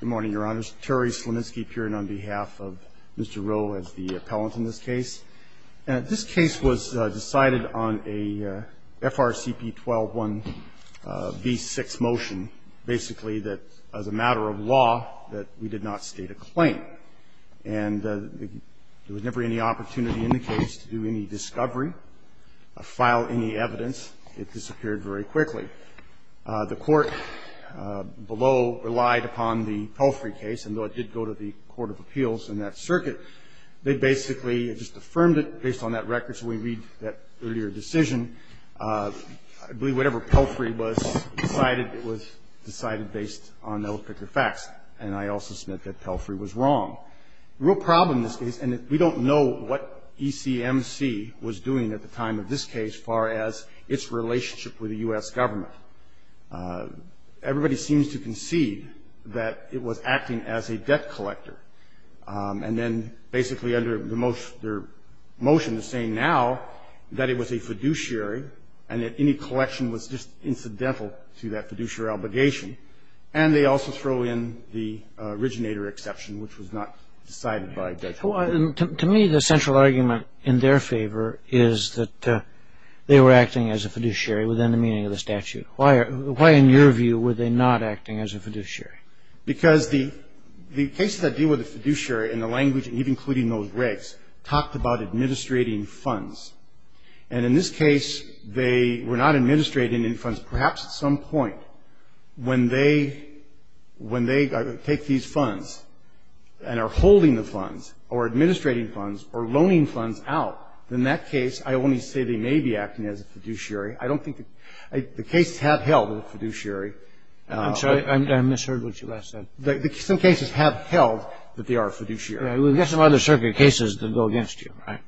Good morning, Your Honors. Terry Sleminski appearing on behalf of Mr. Rowe as the appellant in this case. And this case was decided on a FRCP 12-1 v. 6 motion, basically that as a matter of law that we did not state a claim. And there was never any opportunity in the case to do any discovery, file any evidence. It disappeared very quickly. The court below relied upon the Pelfrey case, and though it did go to the Court of Appeals in that circuit, they basically just affirmed it based on that record. So we read that earlier decision. I believe whatever Pelfrey was decided, it was decided based on those particular facts. And I also submit that Pelfrey was wrong. The real problem in this case, and we don't know what ECMC was doing at the time of this case as far as its relationship with the U.S. government, everybody seems to concede that it was acting as a debt collector. And then basically under their motion to say now that it was a fiduciary and that any collection was just incidental to that fiduciary obligation. And they also throw in the originator exception, which was not decided by Dutch. To me, the central argument in their favor is that they were acting as a fiduciary within the meaning of the statute. Why, in your view, were they not acting as a fiduciary? Because the cases that deal with the fiduciary and the language, even including those regs, talked about administrating funds. And in this case, they were not administrating any funds. Perhaps at some point when they take these funds and are holding the funds or administrating funds or loaning funds out, in that case, I only say they may be acting as a fiduciary. I don't think the cases have held fiduciary. I'm sorry. I misheard what you last said. Some cases have held that they are a fiduciary. We've got some other circuit cases that go against you, right?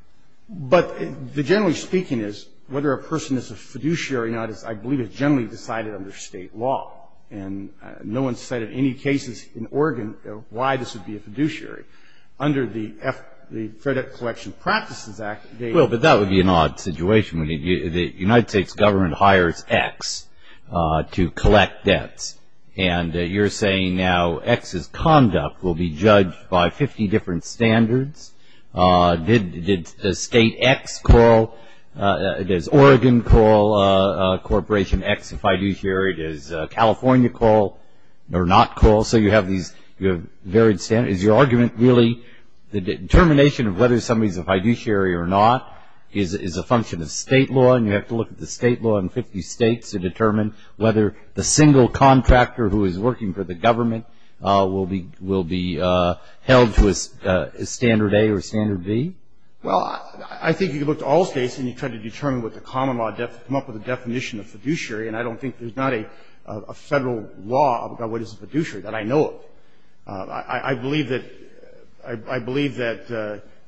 But generally speaking, whether a person is a fiduciary or not, I believe, is generally decided under state law. And no one's said in any cases in Oregon why this would be a fiduciary. Under the Fair Debt Collection Practices Act, they are. Well, but that would be an odd situation. The United States government hires X to collect debts. And you're saying now X's conduct will be judged by 50 different standards? Did State X call? Does Oregon call Corporation X a fiduciary? Does California call or not call? So you have these varied standards. Is your argument really the determination of whether somebody is a fiduciary or not is a function of state law, and you have to look at the state law in 50 states to determine whether the single contractor who is working for the government will be held to a standard A or a standard B? Well, I think you can look to all states, and you try to determine what the common law to come up with a definition of fiduciary. And I don't think there's not a Federal law about what is a fiduciary that I know of. I believe that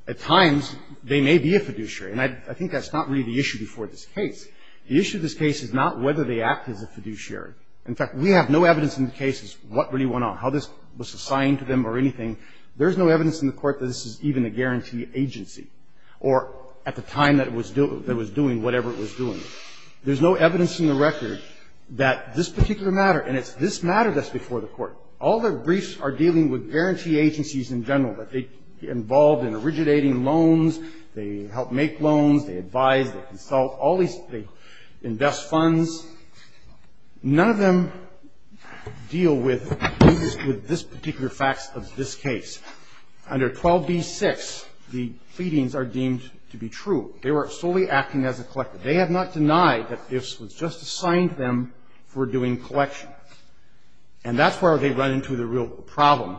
at times they may be a fiduciary. And I think that's not really the issue before this case. The issue of this case is not whether they act as a fiduciary. In fact, we have no evidence in the cases what really went on, how this was assigned to them or anything. There's no evidence in the court that this is even a guarantee agency or at the time that it was doing whatever it was doing. There's no evidence in the record that this particular matter, and it's this matter that's before the court. All the briefs are dealing with guarantee agencies in general, that they get involved in originating loans, they help make loans, they advise, they consult, all these things, invest funds. None of them deal with this particular facts of this case. Under 12b-6, the pleadings are deemed to be true. They were solely acting as a collector. They have not denied that this was just assigned to them for doing collection. And that's where they run into the real problem,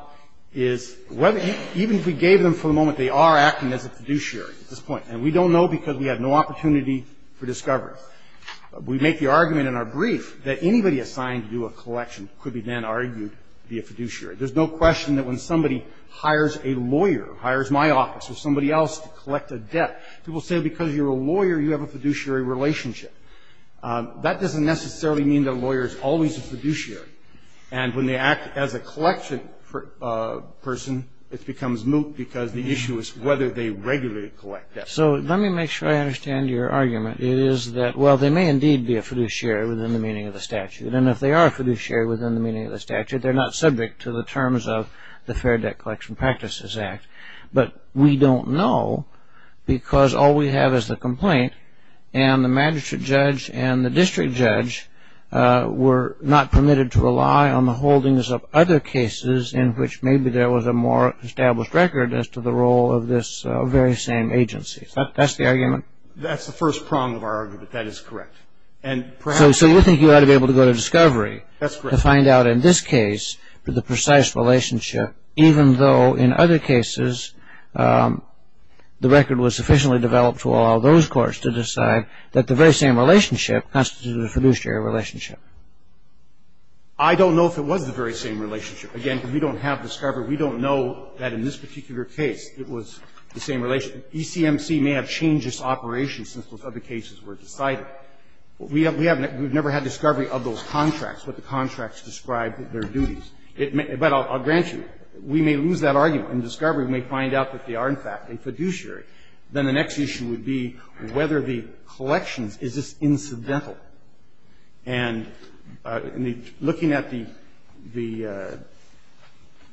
is even if we gave them for the moment, they are acting as a fiduciary at this point. And we don't know because we have no opportunity for discovery. We make the argument in our brief that anybody assigned to do a collection could be then argued to be a fiduciary. There's no question that when somebody hires a lawyer, hires my office or somebody else to collect a debt, people say because you're a lawyer, you have a fiduciary relationship. That doesn't necessarily mean that a lawyer is always a fiduciary. And when they act as a collection person, it becomes moot because the issue is whether they regularly collect debt. So let me make sure I understand your argument. It is that, well, they may indeed be a fiduciary within the meaning of the statute. And if they are a fiduciary within the meaning of the statute, they're not subject to the terms of the Fair Debt Collection Practices Act. But we don't know because all we have is the complaint and the magistrate judge and the district judge were not permitted to rely on the holdings of other cases in which maybe there was a more established record as to the role of this very same agency. That's the argument? That's the first prong of our argument. That is correct. So you think you ought to be able to go to discovery to find out in this case the precise relationship, even though in other cases the record was sufficiently developed to allow those courts to decide that the very same relationship constitutes a fiduciary relationship. I don't know if it was the very same relationship. Again, we don't have discovery. We don't know that in this particular case it was the same relationship. ECMC may have changed its operation since those other cases were decided. We have never had discovery of those contracts, what the contracts describe their duties. But I'll grant you, we may lose that argument. In discovery, we may find out that they are, in fact, a fiduciary. Then the next issue would be whether the collections, is this incidental? And looking at the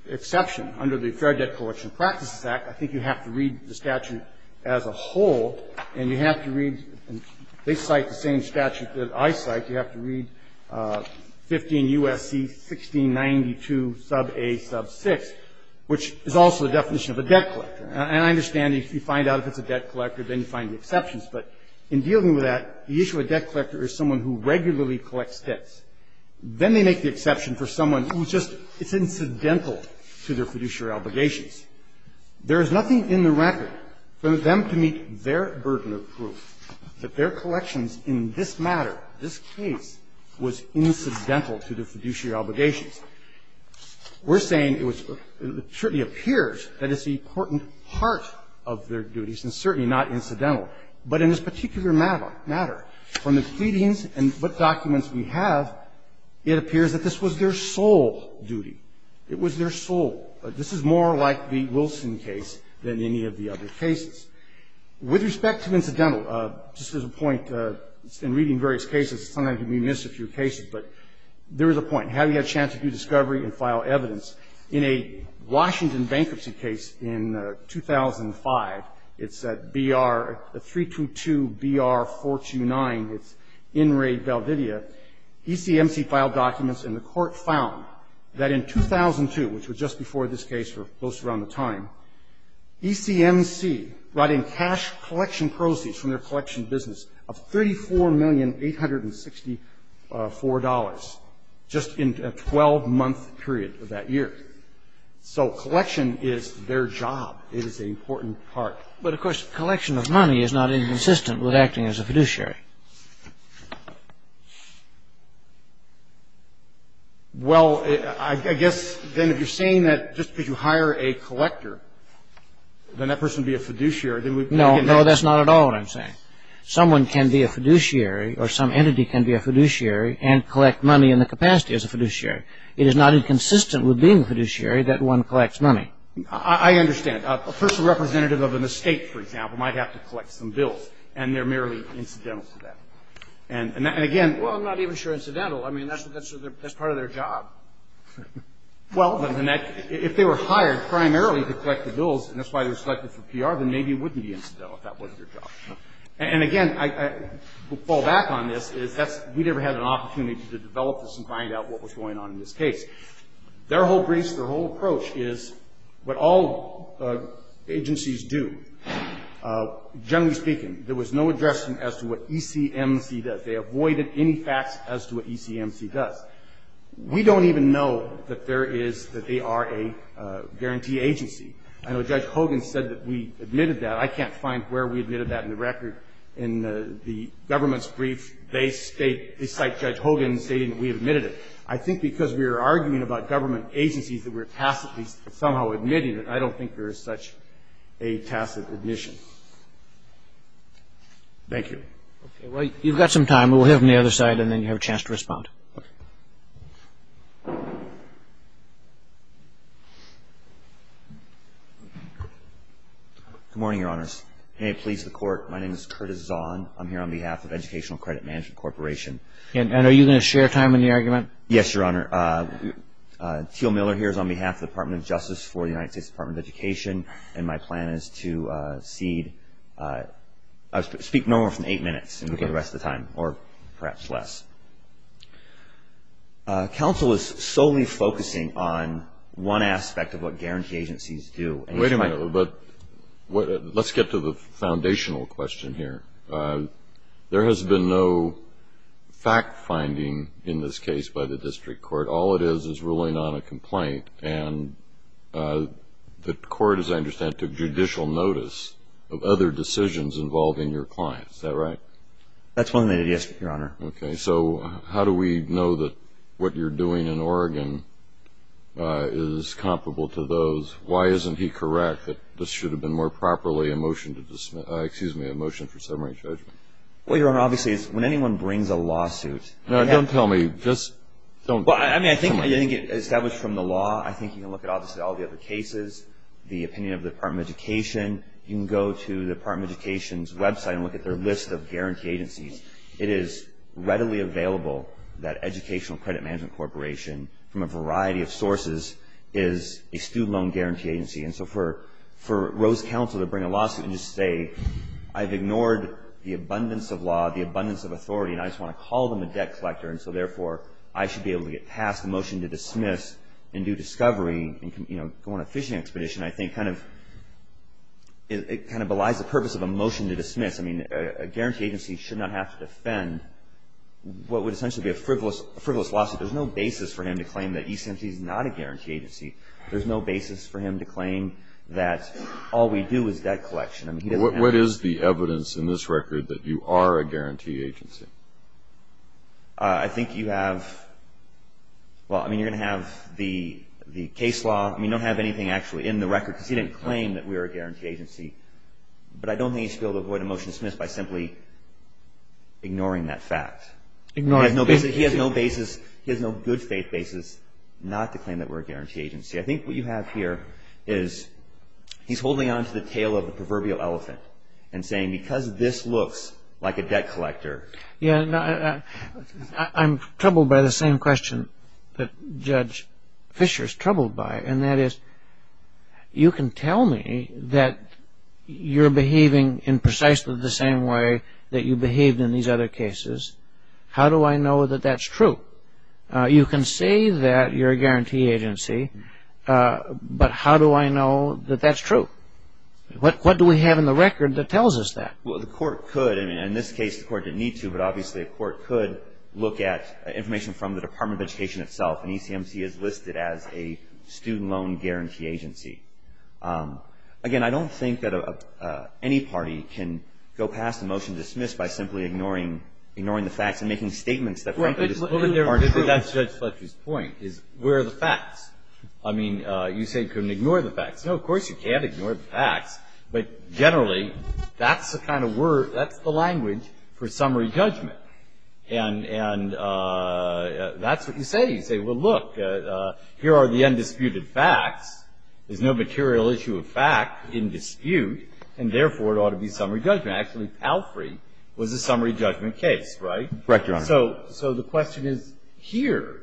exception under the Fair Debt Collection Practices Act, I think you have to read the statute as a whole. And you have to read, and they cite the same statute that I cite, you have to read 15 U.S.C. 1692, sub a, sub 6, which is also the definition of a debt collector. And I understand if you find out if it's a debt collector, then you find the exceptions. But in dealing with that, the issue of debt collector is someone who regularly collects debts. Then they make the exception for someone who just is incidental to their fiduciary obligations. There is nothing in the record for them to meet their burden of proof that their collections in this matter, this case, was incidental to their fiduciary obligations. We're saying it certainly appears that it's an important part of their duties and certainly not incidental. But in this particular matter, from the pleadings and what documents we have, it appears that this was their sole duty. It was their sole. This is more like the Wilson case than any of the other cases. With respect to incidental, just as a point, in reading various cases, sometimes we miss a few cases, but there is a point. Have you had a chance to do discovery and file evidence? In a Washington bankruptcy case in 2005, it's 322-BR-429. It's in raid Belvidere. ECMC filed documents and the court found that in 2002, which was just before this case or close around the time, ECMC brought in cash collection proceeds from their collection business of $34,864,000 just in a 12-month period of that year. So collection is their job. It is an important part. But, of course, collection of money is not inconsistent with acting as a fiduciary. Well, I guess then if you're saying that just because you hire a collector, then that person would be a fiduciary. No, no, that's not at all what I'm saying. Someone can be a fiduciary or some entity can be a fiduciary and collect money in the capacity as a fiduciary. It is not inconsistent with being a fiduciary that one collects money. I understand. A personal representative of an estate, for example, might have to collect some bills and they're merely incidental to that. And, again, well, I'm not even sure incidental. I mean, that's part of their job. Well, if they were hired primarily to collect the bills and that's why they were selected for PR, then maybe it wouldn't be incidental if that wasn't their job. And, again, we'll fall back on this. We've never had an opportunity to develop this and find out what was going on in this case. Their whole briefs, their whole approach is what all agencies do. Generally speaking, there was no addressing as to what ECMC does. They avoided any facts as to what ECMC does. We don't even know that there is, that they are a guarantee agency. I know Judge Hogan said that we admitted that. I can't find where we admitted that in the record. In the government's brief, they state, they cite Judge Hogan stating that we admitted it. I think because we are arguing about government agencies that we're tacitly somehow admitting it, I don't think there is such a tacit admission. Thank you. Okay. Well, you've got some time. Okay. Good morning, Your Honors. May it please the Court, my name is Curtis Zahn. I'm here on behalf of Educational Credit Management Corporation. And are you going to share time in the argument? Yes, Your Honor. Teal Miller here is on behalf of the Department of Justice for the United States Department of Education, and my plan is to cede. I'll speak no more than eight minutes, and we'll get the rest of the time, or perhaps less. Counsel is solely focusing on one aspect of what guarantee agencies do. Wait a minute. Let's get to the foundational question here. There has been no fact-finding in this case by the district court. All it is is ruling on a complaint. And the court, as I understand it, took judicial notice of other decisions involving your client. Is that right? That's one of the ideas, Your Honor. Okay. So how do we know that what you're doing in Oregon is comparable to those? Why isn't he correct that this should have been more properly a motion to dismiss – excuse me, a motion for summary judgment? Well, Your Honor, obviously, when anyone brings a lawsuit – No, don't tell me. Just don't tell me. Well, I mean, I think established from the law, I think you can look at, obviously, all the other cases, the opinion of the Department of Education. You can go to the Department of Education's website and look at their list of guarantee agencies. It is readily available that Educational Credit Management Corporation, from a variety of sources, is a student loan guarantee agency. And so for Rose Counsel to bring a lawsuit and just say, I've ignored the abundance of law, the abundance of authority, and I just want to call them a debt collector, and so therefore, I should be able to get past the motion to dismiss and do discovery and go on a fishing expedition, I think kind of – it kind of belies the purpose of a motion to dismiss. I mean, a guarantee agency should not have to defend what would essentially be a frivolous lawsuit. There's no basis for him to claim that E-CMT is not a guarantee agency. There's no basis for him to claim that all we do is debt collection. What is the evidence in this record that you are a guarantee agency? I think you have – well, I mean, you're going to have the case law. I mean, you don't have anything actually in the record because he didn't claim that we were a guarantee agency. But I don't think he should be able to avoid a motion to dismiss by simply ignoring that fact. Ignoring the fact. He has no basis – he has no good faith basis not to claim that we're a guarantee agency. I think what you have here is he's holding on to the tail of the proverbial elephant and saying because this looks like a debt collector. Yeah. I'm troubled by the same question that Judge Fisher's troubled by, and that is you can tell me that you're behaving in precisely the same way that you behaved in these other cases. How do I know that that's true? You can say that you're a guarantee agency, but how do I know that that's true? What do we have in the record that tells us that? Well, the court could. I mean, in this case the court didn't need to, but obviously the court could look at information from the Department of Education itself, and ECMC is listed as a student loan guarantee agency. Again, I don't think that any party can go past a motion to dismiss by simply ignoring the facts and making statements that frankly just aren't true. Well, but that's Judge Fletcher's point, is where are the facts? I mean, you say you can ignore the facts. No, of course you can't ignore the facts, but generally that's the kind of word – that's the language for summary judgment, and that's what you say. You say, well, look, here are the undisputed facts. There's no material issue of fact in dispute, and therefore it ought to be summary judgment. Actually, Palfrey was a summary judgment case, right? Correct, Your Honor. So the question is, here,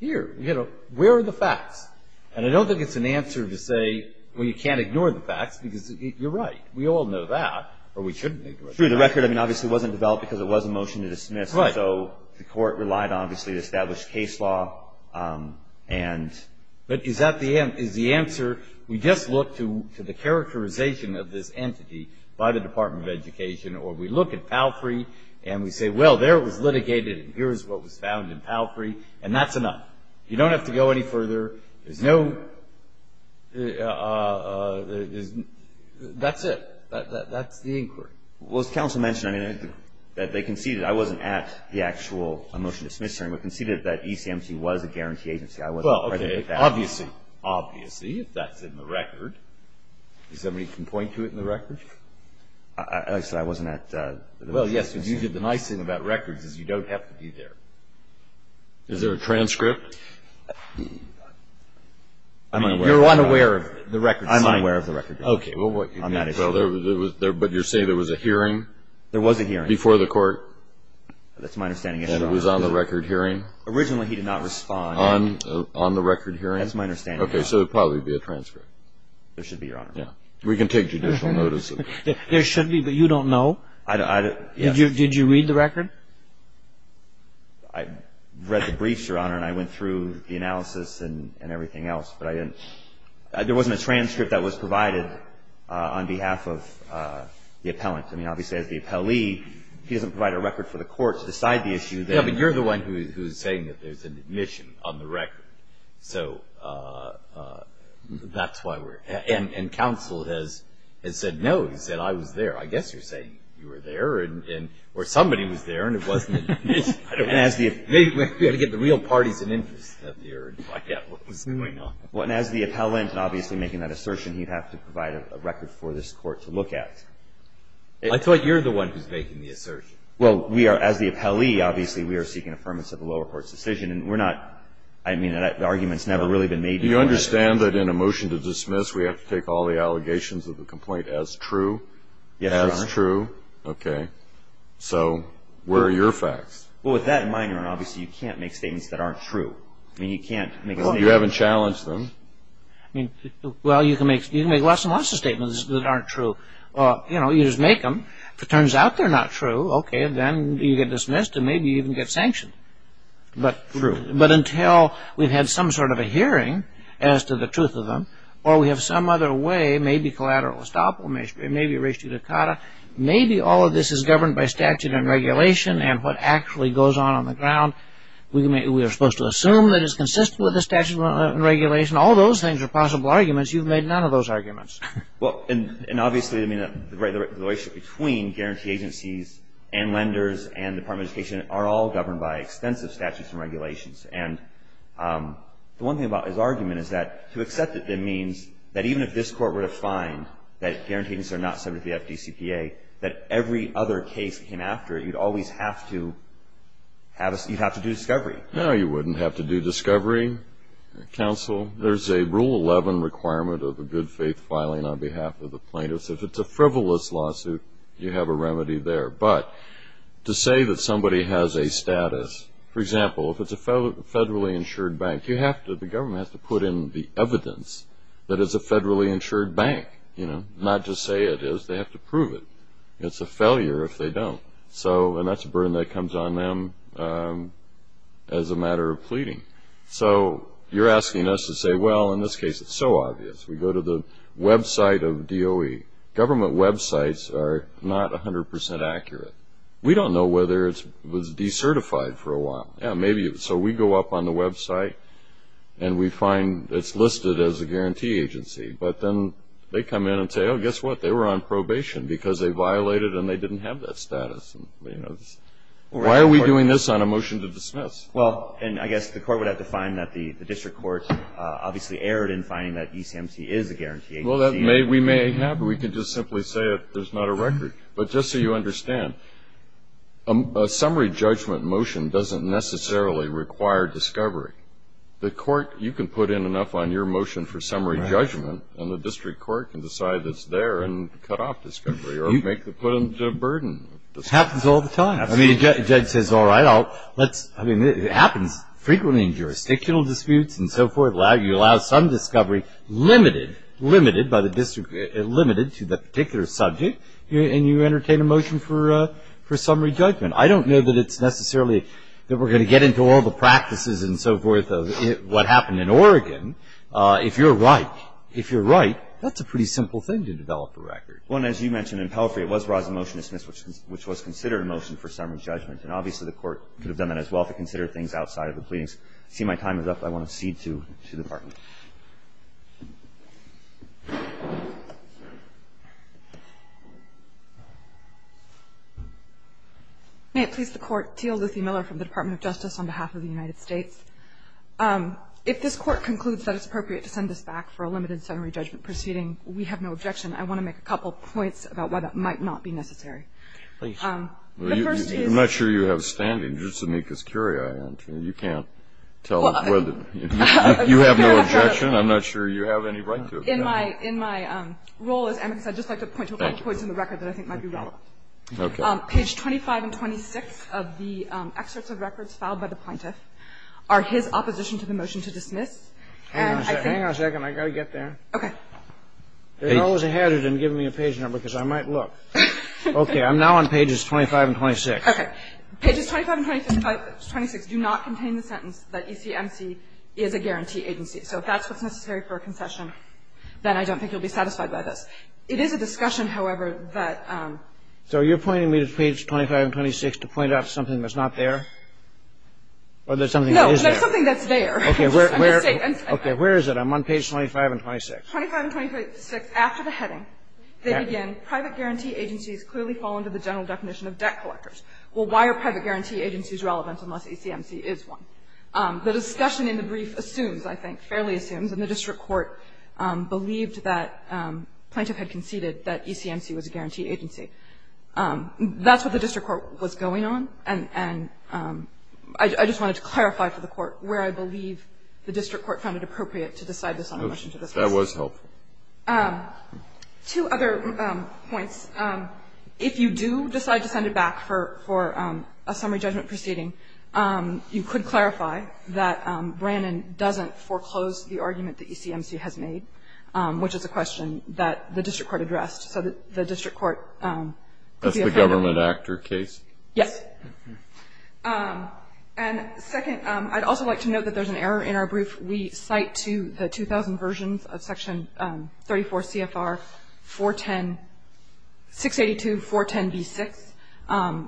here, you know, where are the facts? And I don't think it's an answer to say, well, you can't ignore the facts, because you're right. We all know that, or we shouldn't ignore that. True. The record, I mean, obviously wasn't developed because it was a motion to dismiss. Right. So the court relied, obviously, on established case law and – But is that the answer? We just look to the characterization of this entity by the Department of Education or we look at Palfrey and we say, well, there it was litigated and here is what was found in Palfrey, and that's enough. You don't have to go any further. There's no – that's it. That's the inquiry. Well, as counsel mentioned, I mean, that they conceded – I wasn't at the actual motion to dismiss hearing, but conceded that ECMC was a guarantee agency. I wasn't present at that. Well, okay. Obviously. Obviously, if that's in the record. Does anybody can point to it in the record? I said I wasn't at the – Well, yes, but you did the nice thing about records is you don't have to be there. Is there a transcript? You're unaware of the records. I'm unaware of the records. Okay. Well, what – On that issue. But you're saying there was a hearing? There was a hearing. Before the court? That's my understanding, Your Honor. And it was on the record hearing? Originally, he did not respond. On the record hearing? That's my understanding, Your Honor. Okay. So it would probably be a transcript. There should be, Your Honor. Yeah. We can take judicial notice of it. There should be, but you don't know? Did you read the record? I read the briefs, Your Honor, and I went through the analysis and everything else, but I didn't – there wasn't a transcript that was provided on behalf of the appellant. I mean, obviously, as the appellee, he doesn't provide a record for the court to decide the issue. Yeah, but you're the one who's saying that there's an admission on the record. So that's why we're – and counsel has said no. He said, I was there. I guess you're saying you were there, or somebody was there and it wasn't an admission. I don't know. We've got to get the real parties of interest up here and find out what was going on. Well, and as the appellant, obviously making that assertion, he'd have to provide a record for this court to look at. I thought you're the one who's making the assertion. Well, we are – as the appellee, obviously, we are seeking affirmance of the lower court's decision, and we're not – I mean, the argument's never really been made. Do you understand that in a motion to dismiss, we have to take all the allegations of the complaint as true? Yes, Your Honor. As true? Okay. So where are your facts? Well, with that in mind, Your Honor, obviously you can't make statements that aren't true. I mean, you can't make statements – Well, you haven't challenged them. I mean, well, you can make lots and lots of statements that aren't true. You know, you just make them. If it turns out they're not true, okay, then you get dismissed and maybe even get sanctioned. True. But until we've had some sort of a hearing as to the truth of them, or we have some other way, maybe collateral estoppel, maybe res judicata, maybe all of this is governed by statute and regulation and what actually goes on on the ground. We are supposed to assume that it's consistent with the statute and regulation. All those things are possible arguments. You've made none of those arguments. Well, and obviously, I mean, the relationship between guarantee agencies and lenders and the Department of Education are all governed by extensive statutes and regulations. And the one thing about his argument is that to accept it, that means that even if this Court were to find that guarantee agencies are not subject to the FDCPA, that every other case that came after it, you'd always have to do discovery. No, you wouldn't have to do discovery, Counsel. There's a Rule 11 requirement of a good faith filing on behalf of the plaintiffs. If it's a frivolous lawsuit, you have a remedy there. But to say that somebody has a status, for example, if it's a federally insured bank, you have to, the government has to put in the evidence that it's a federally insured bank, you know, not just say it is. They have to prove it. It's a failure if they don't. So, and that's a burden that comes on them as a matter of pleading. So you're asking us to say, well, in this case it's so obvious. We go to the website of DOE. Government websites are not 100% accurate. We don't know whether it was decertified for a while. Yeah, maybe. So we go up on the website and we find it's listed as a guarantee agency. But then they come in and say, oh, guess what? They were on probation because they violated and they didn't have that status. Why are we doing this on a motion to dismiss? Well, and I guess the court would have to find that the district court obviously erred in finding that ECMC is a guarantee agency. Well, we may have. We could just simply say there's not a record. But just so you understand, a summary judgment motion doesn't necessarily require discovery. The court, you can put in enough on your motion for summary judgment, and the district court can decide it's there and cut off discovery or make the burden. It happens all the time. The judge says, all right, it happens frequently in jurisdictional disputes and so forth. You allow some discovery limited by the district, limited to the particular subject, and you entertain a motion for summary judgment. I don't know that it's necessarily that we're going to get into all the practices and so forth of what happened in Oregon. If you're right, if you're right, that's a pretty simple thing to develop a record. Well, and as you mentioned in Pelfrey, it was where I was in the motion to dismiss, which was considered a motion for summary judgment. And obviously, the court could have done that as well if it considered things outside of the pleadings. I see my time is up. I want to cede to the Department. May it please the Court. Teal Luthy Miller from the Department of Justice on behalf of the United States. If this Court concludes that it's appropriate to send this back for a limited summary judgment proceeding, we have no objection. I want to make a couple of points about why that might not be necessary. I'm not sure you have standing. You're Zemeckis Curiae, aren't you? You can't tell us whether you have no objection. I'm not sure you have any right to. In my role, as Emick said, I'd just like to point to a couple of points in the record that I think might be relevant. Okay. Page 25 and 26 of the excerpts of records filed by the plaintiff are his opposition to the motion to dismiss. Hang on a second. I've got to get there. Okay. There's always a hazard in giving me a page number because I might look. Okay. I'm now on pages 25 and 26. Okay. Pages 25 and 26 do not contain the sentence that ECMC is a guarantee agency. So if that's what's necessary for a concession, then I don't think you'll be satisfied by this. It is a discussion, however, that ---- So you're pointing me to page 25 and 26 to point out something that's not there? Or there's something that is there? No. There's something that's there. Okay. Okay. Where is it? I'm on page 25 and 26. 25 and 26, after the heading, they begin, Private guarantee agencies clearly fall under the general definition of debt collectors. Well, why are private guarantee agencies relevant unless ECMC is one? The discussion in the brief assumes, I think, fairly assumes, and the district court believed that plaintiff had conceded that ECMC was a guarantee agency. That's what the district court was going on. And I just wanted to clarify for the court where I believe the district court found it appropriate to decide this on a motion to discuss. That was helpful. Two other points. If you do decide to send it back for a summary judgment proceeding, you could clarify that Brannon doesn't foreclose the argument that ECMC has made, which is a question that the district court addressed. So the district court could be a candidate. That's the government actor case? Yes. And second, I'd also like to note that there's an error in our brief. We cite to the 2000 versions of Section 34 CFR 682.410b6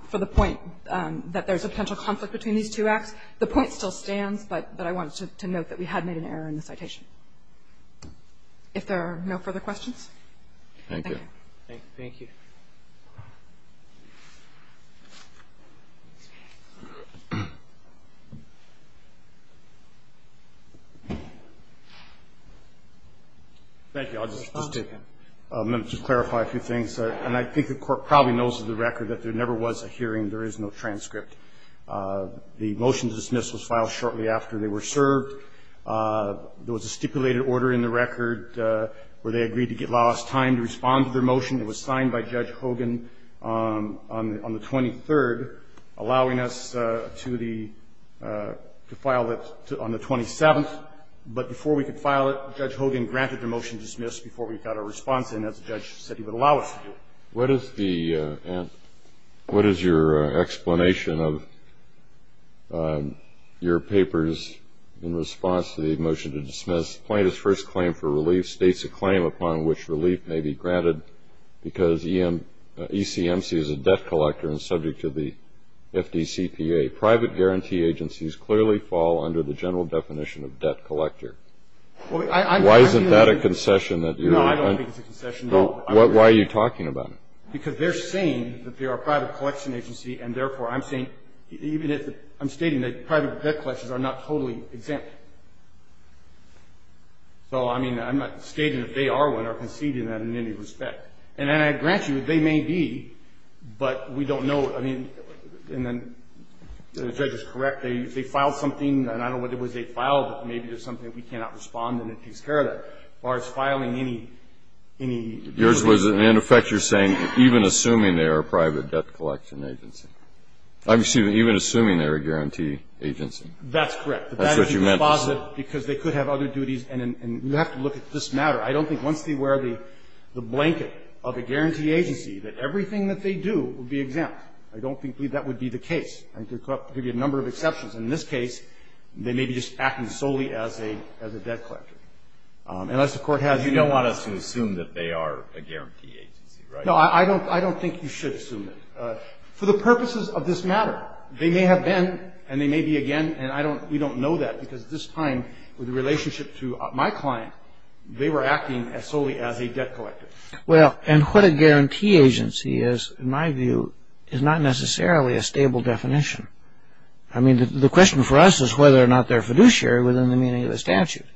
for the point that there's a potential conflict between these two acts. The point still stands, but I wanted to note that we had made an error in the citation. If there are no further questions. Thank you. Thank you. Thank you. Thank you. I'll just take a minute to clarify a few things. And I think the court probably knows of the record that there never was a hearing. There is no transcript. The motion to dismiss was filed shortly after they were served. There was a stipulated order in the record where they agreed to get last time to respond to their motion. It was signed by Judge Hogan on the 23rd, allowing us to file it on the 27th. But before we could file it, Judge Hogan granted the motion to dismiss before we got a response in, as the judge said he would allow us to do. What is your explanation of your papers in response to the motion to dismiss? This plaintiff's first claim for relief states a claim upon which relief may be granted because ECMC is a debt collector and subject to the FDCPA. Private guarantee agencies clearly fall under the general definition of debt collector. Why isn't that a concession? No, I don't think it's a concession. Why are you talking about it? Because they're saying that they are a private collection agency, and, therefore, I'm saying that private debt collectors are not totally exempt. So, I mean, I'm not stating that they are one or conceding that in any respect. And I grant you, they may be, but we don't know. I mean, and then the judge is correct. They filed something, and I don't know what it was they filed, but maybe there's something we cannot respond and it takes care of that, as far as filing any relief. Yours was, in effect, you're saying even assuming they are a private debt collection agency. I'm assuming, even assuming they're a guarantee agency. That's correct. That's what you meant to say. Because they could have other duties, and you have to look at this matter. I don't think once they wear the blanket of a guarantee agency that everything that they do would be exempt. I don't think that would be the case. I think there could be a number of exceptions. In this case, they may be just acting solely as a debt collector. Unless the Court has any other reason. You don't want us to assume that they are a guarantee agency, right? No, I don't think you should assume that. For the purposes of this matter, they may have been, and they may be again. And we don't know that, because at this time, with the relationship to my client, they were acting solely as a debt collector. Well, and what a guarantee agency is, in my view, is not necessarily a stable definition. I mean, the question for us is whether or not they're fiduciary within the meaning of the statute.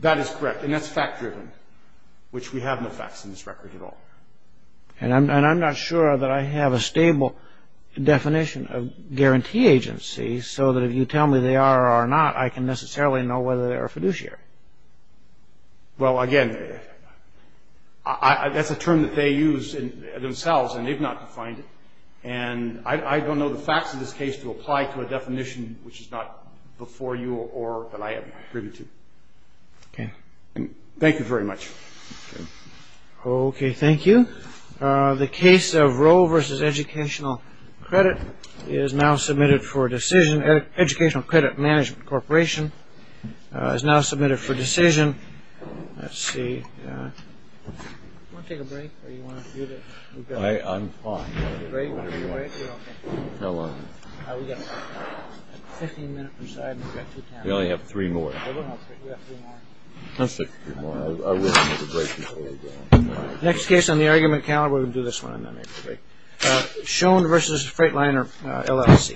That is correct, and that's fact-driven, which we have no facts in this record at all. And I'm not sure that I have a stable definition of guarantee agency, so that if you tell me they are or are not, I can necessarily know whether they are fiduciary. Well, again, that's a term that they use themselves, and they've not defined it. And I don't know the facts of this case to apply to a definition which is not before you or that I am privy to. Okay. Thank you very much. Okay, thank you. The case of Roe v. Educational Credit is now submitted for decision. Educational Credit Management Corporation is now submitted for decision. Let's see. Do you want to take a break, or do you want to do this? I'm fine. Do you want to take a break? How long? We've got 15 minutes per side, and we've got two panels. We only have three more. We have three more. Let's take three more. I will take a break before we go. Next case on the argument calendar, we're going to do this one on April 8th. Schoen v. Freightliner LLC.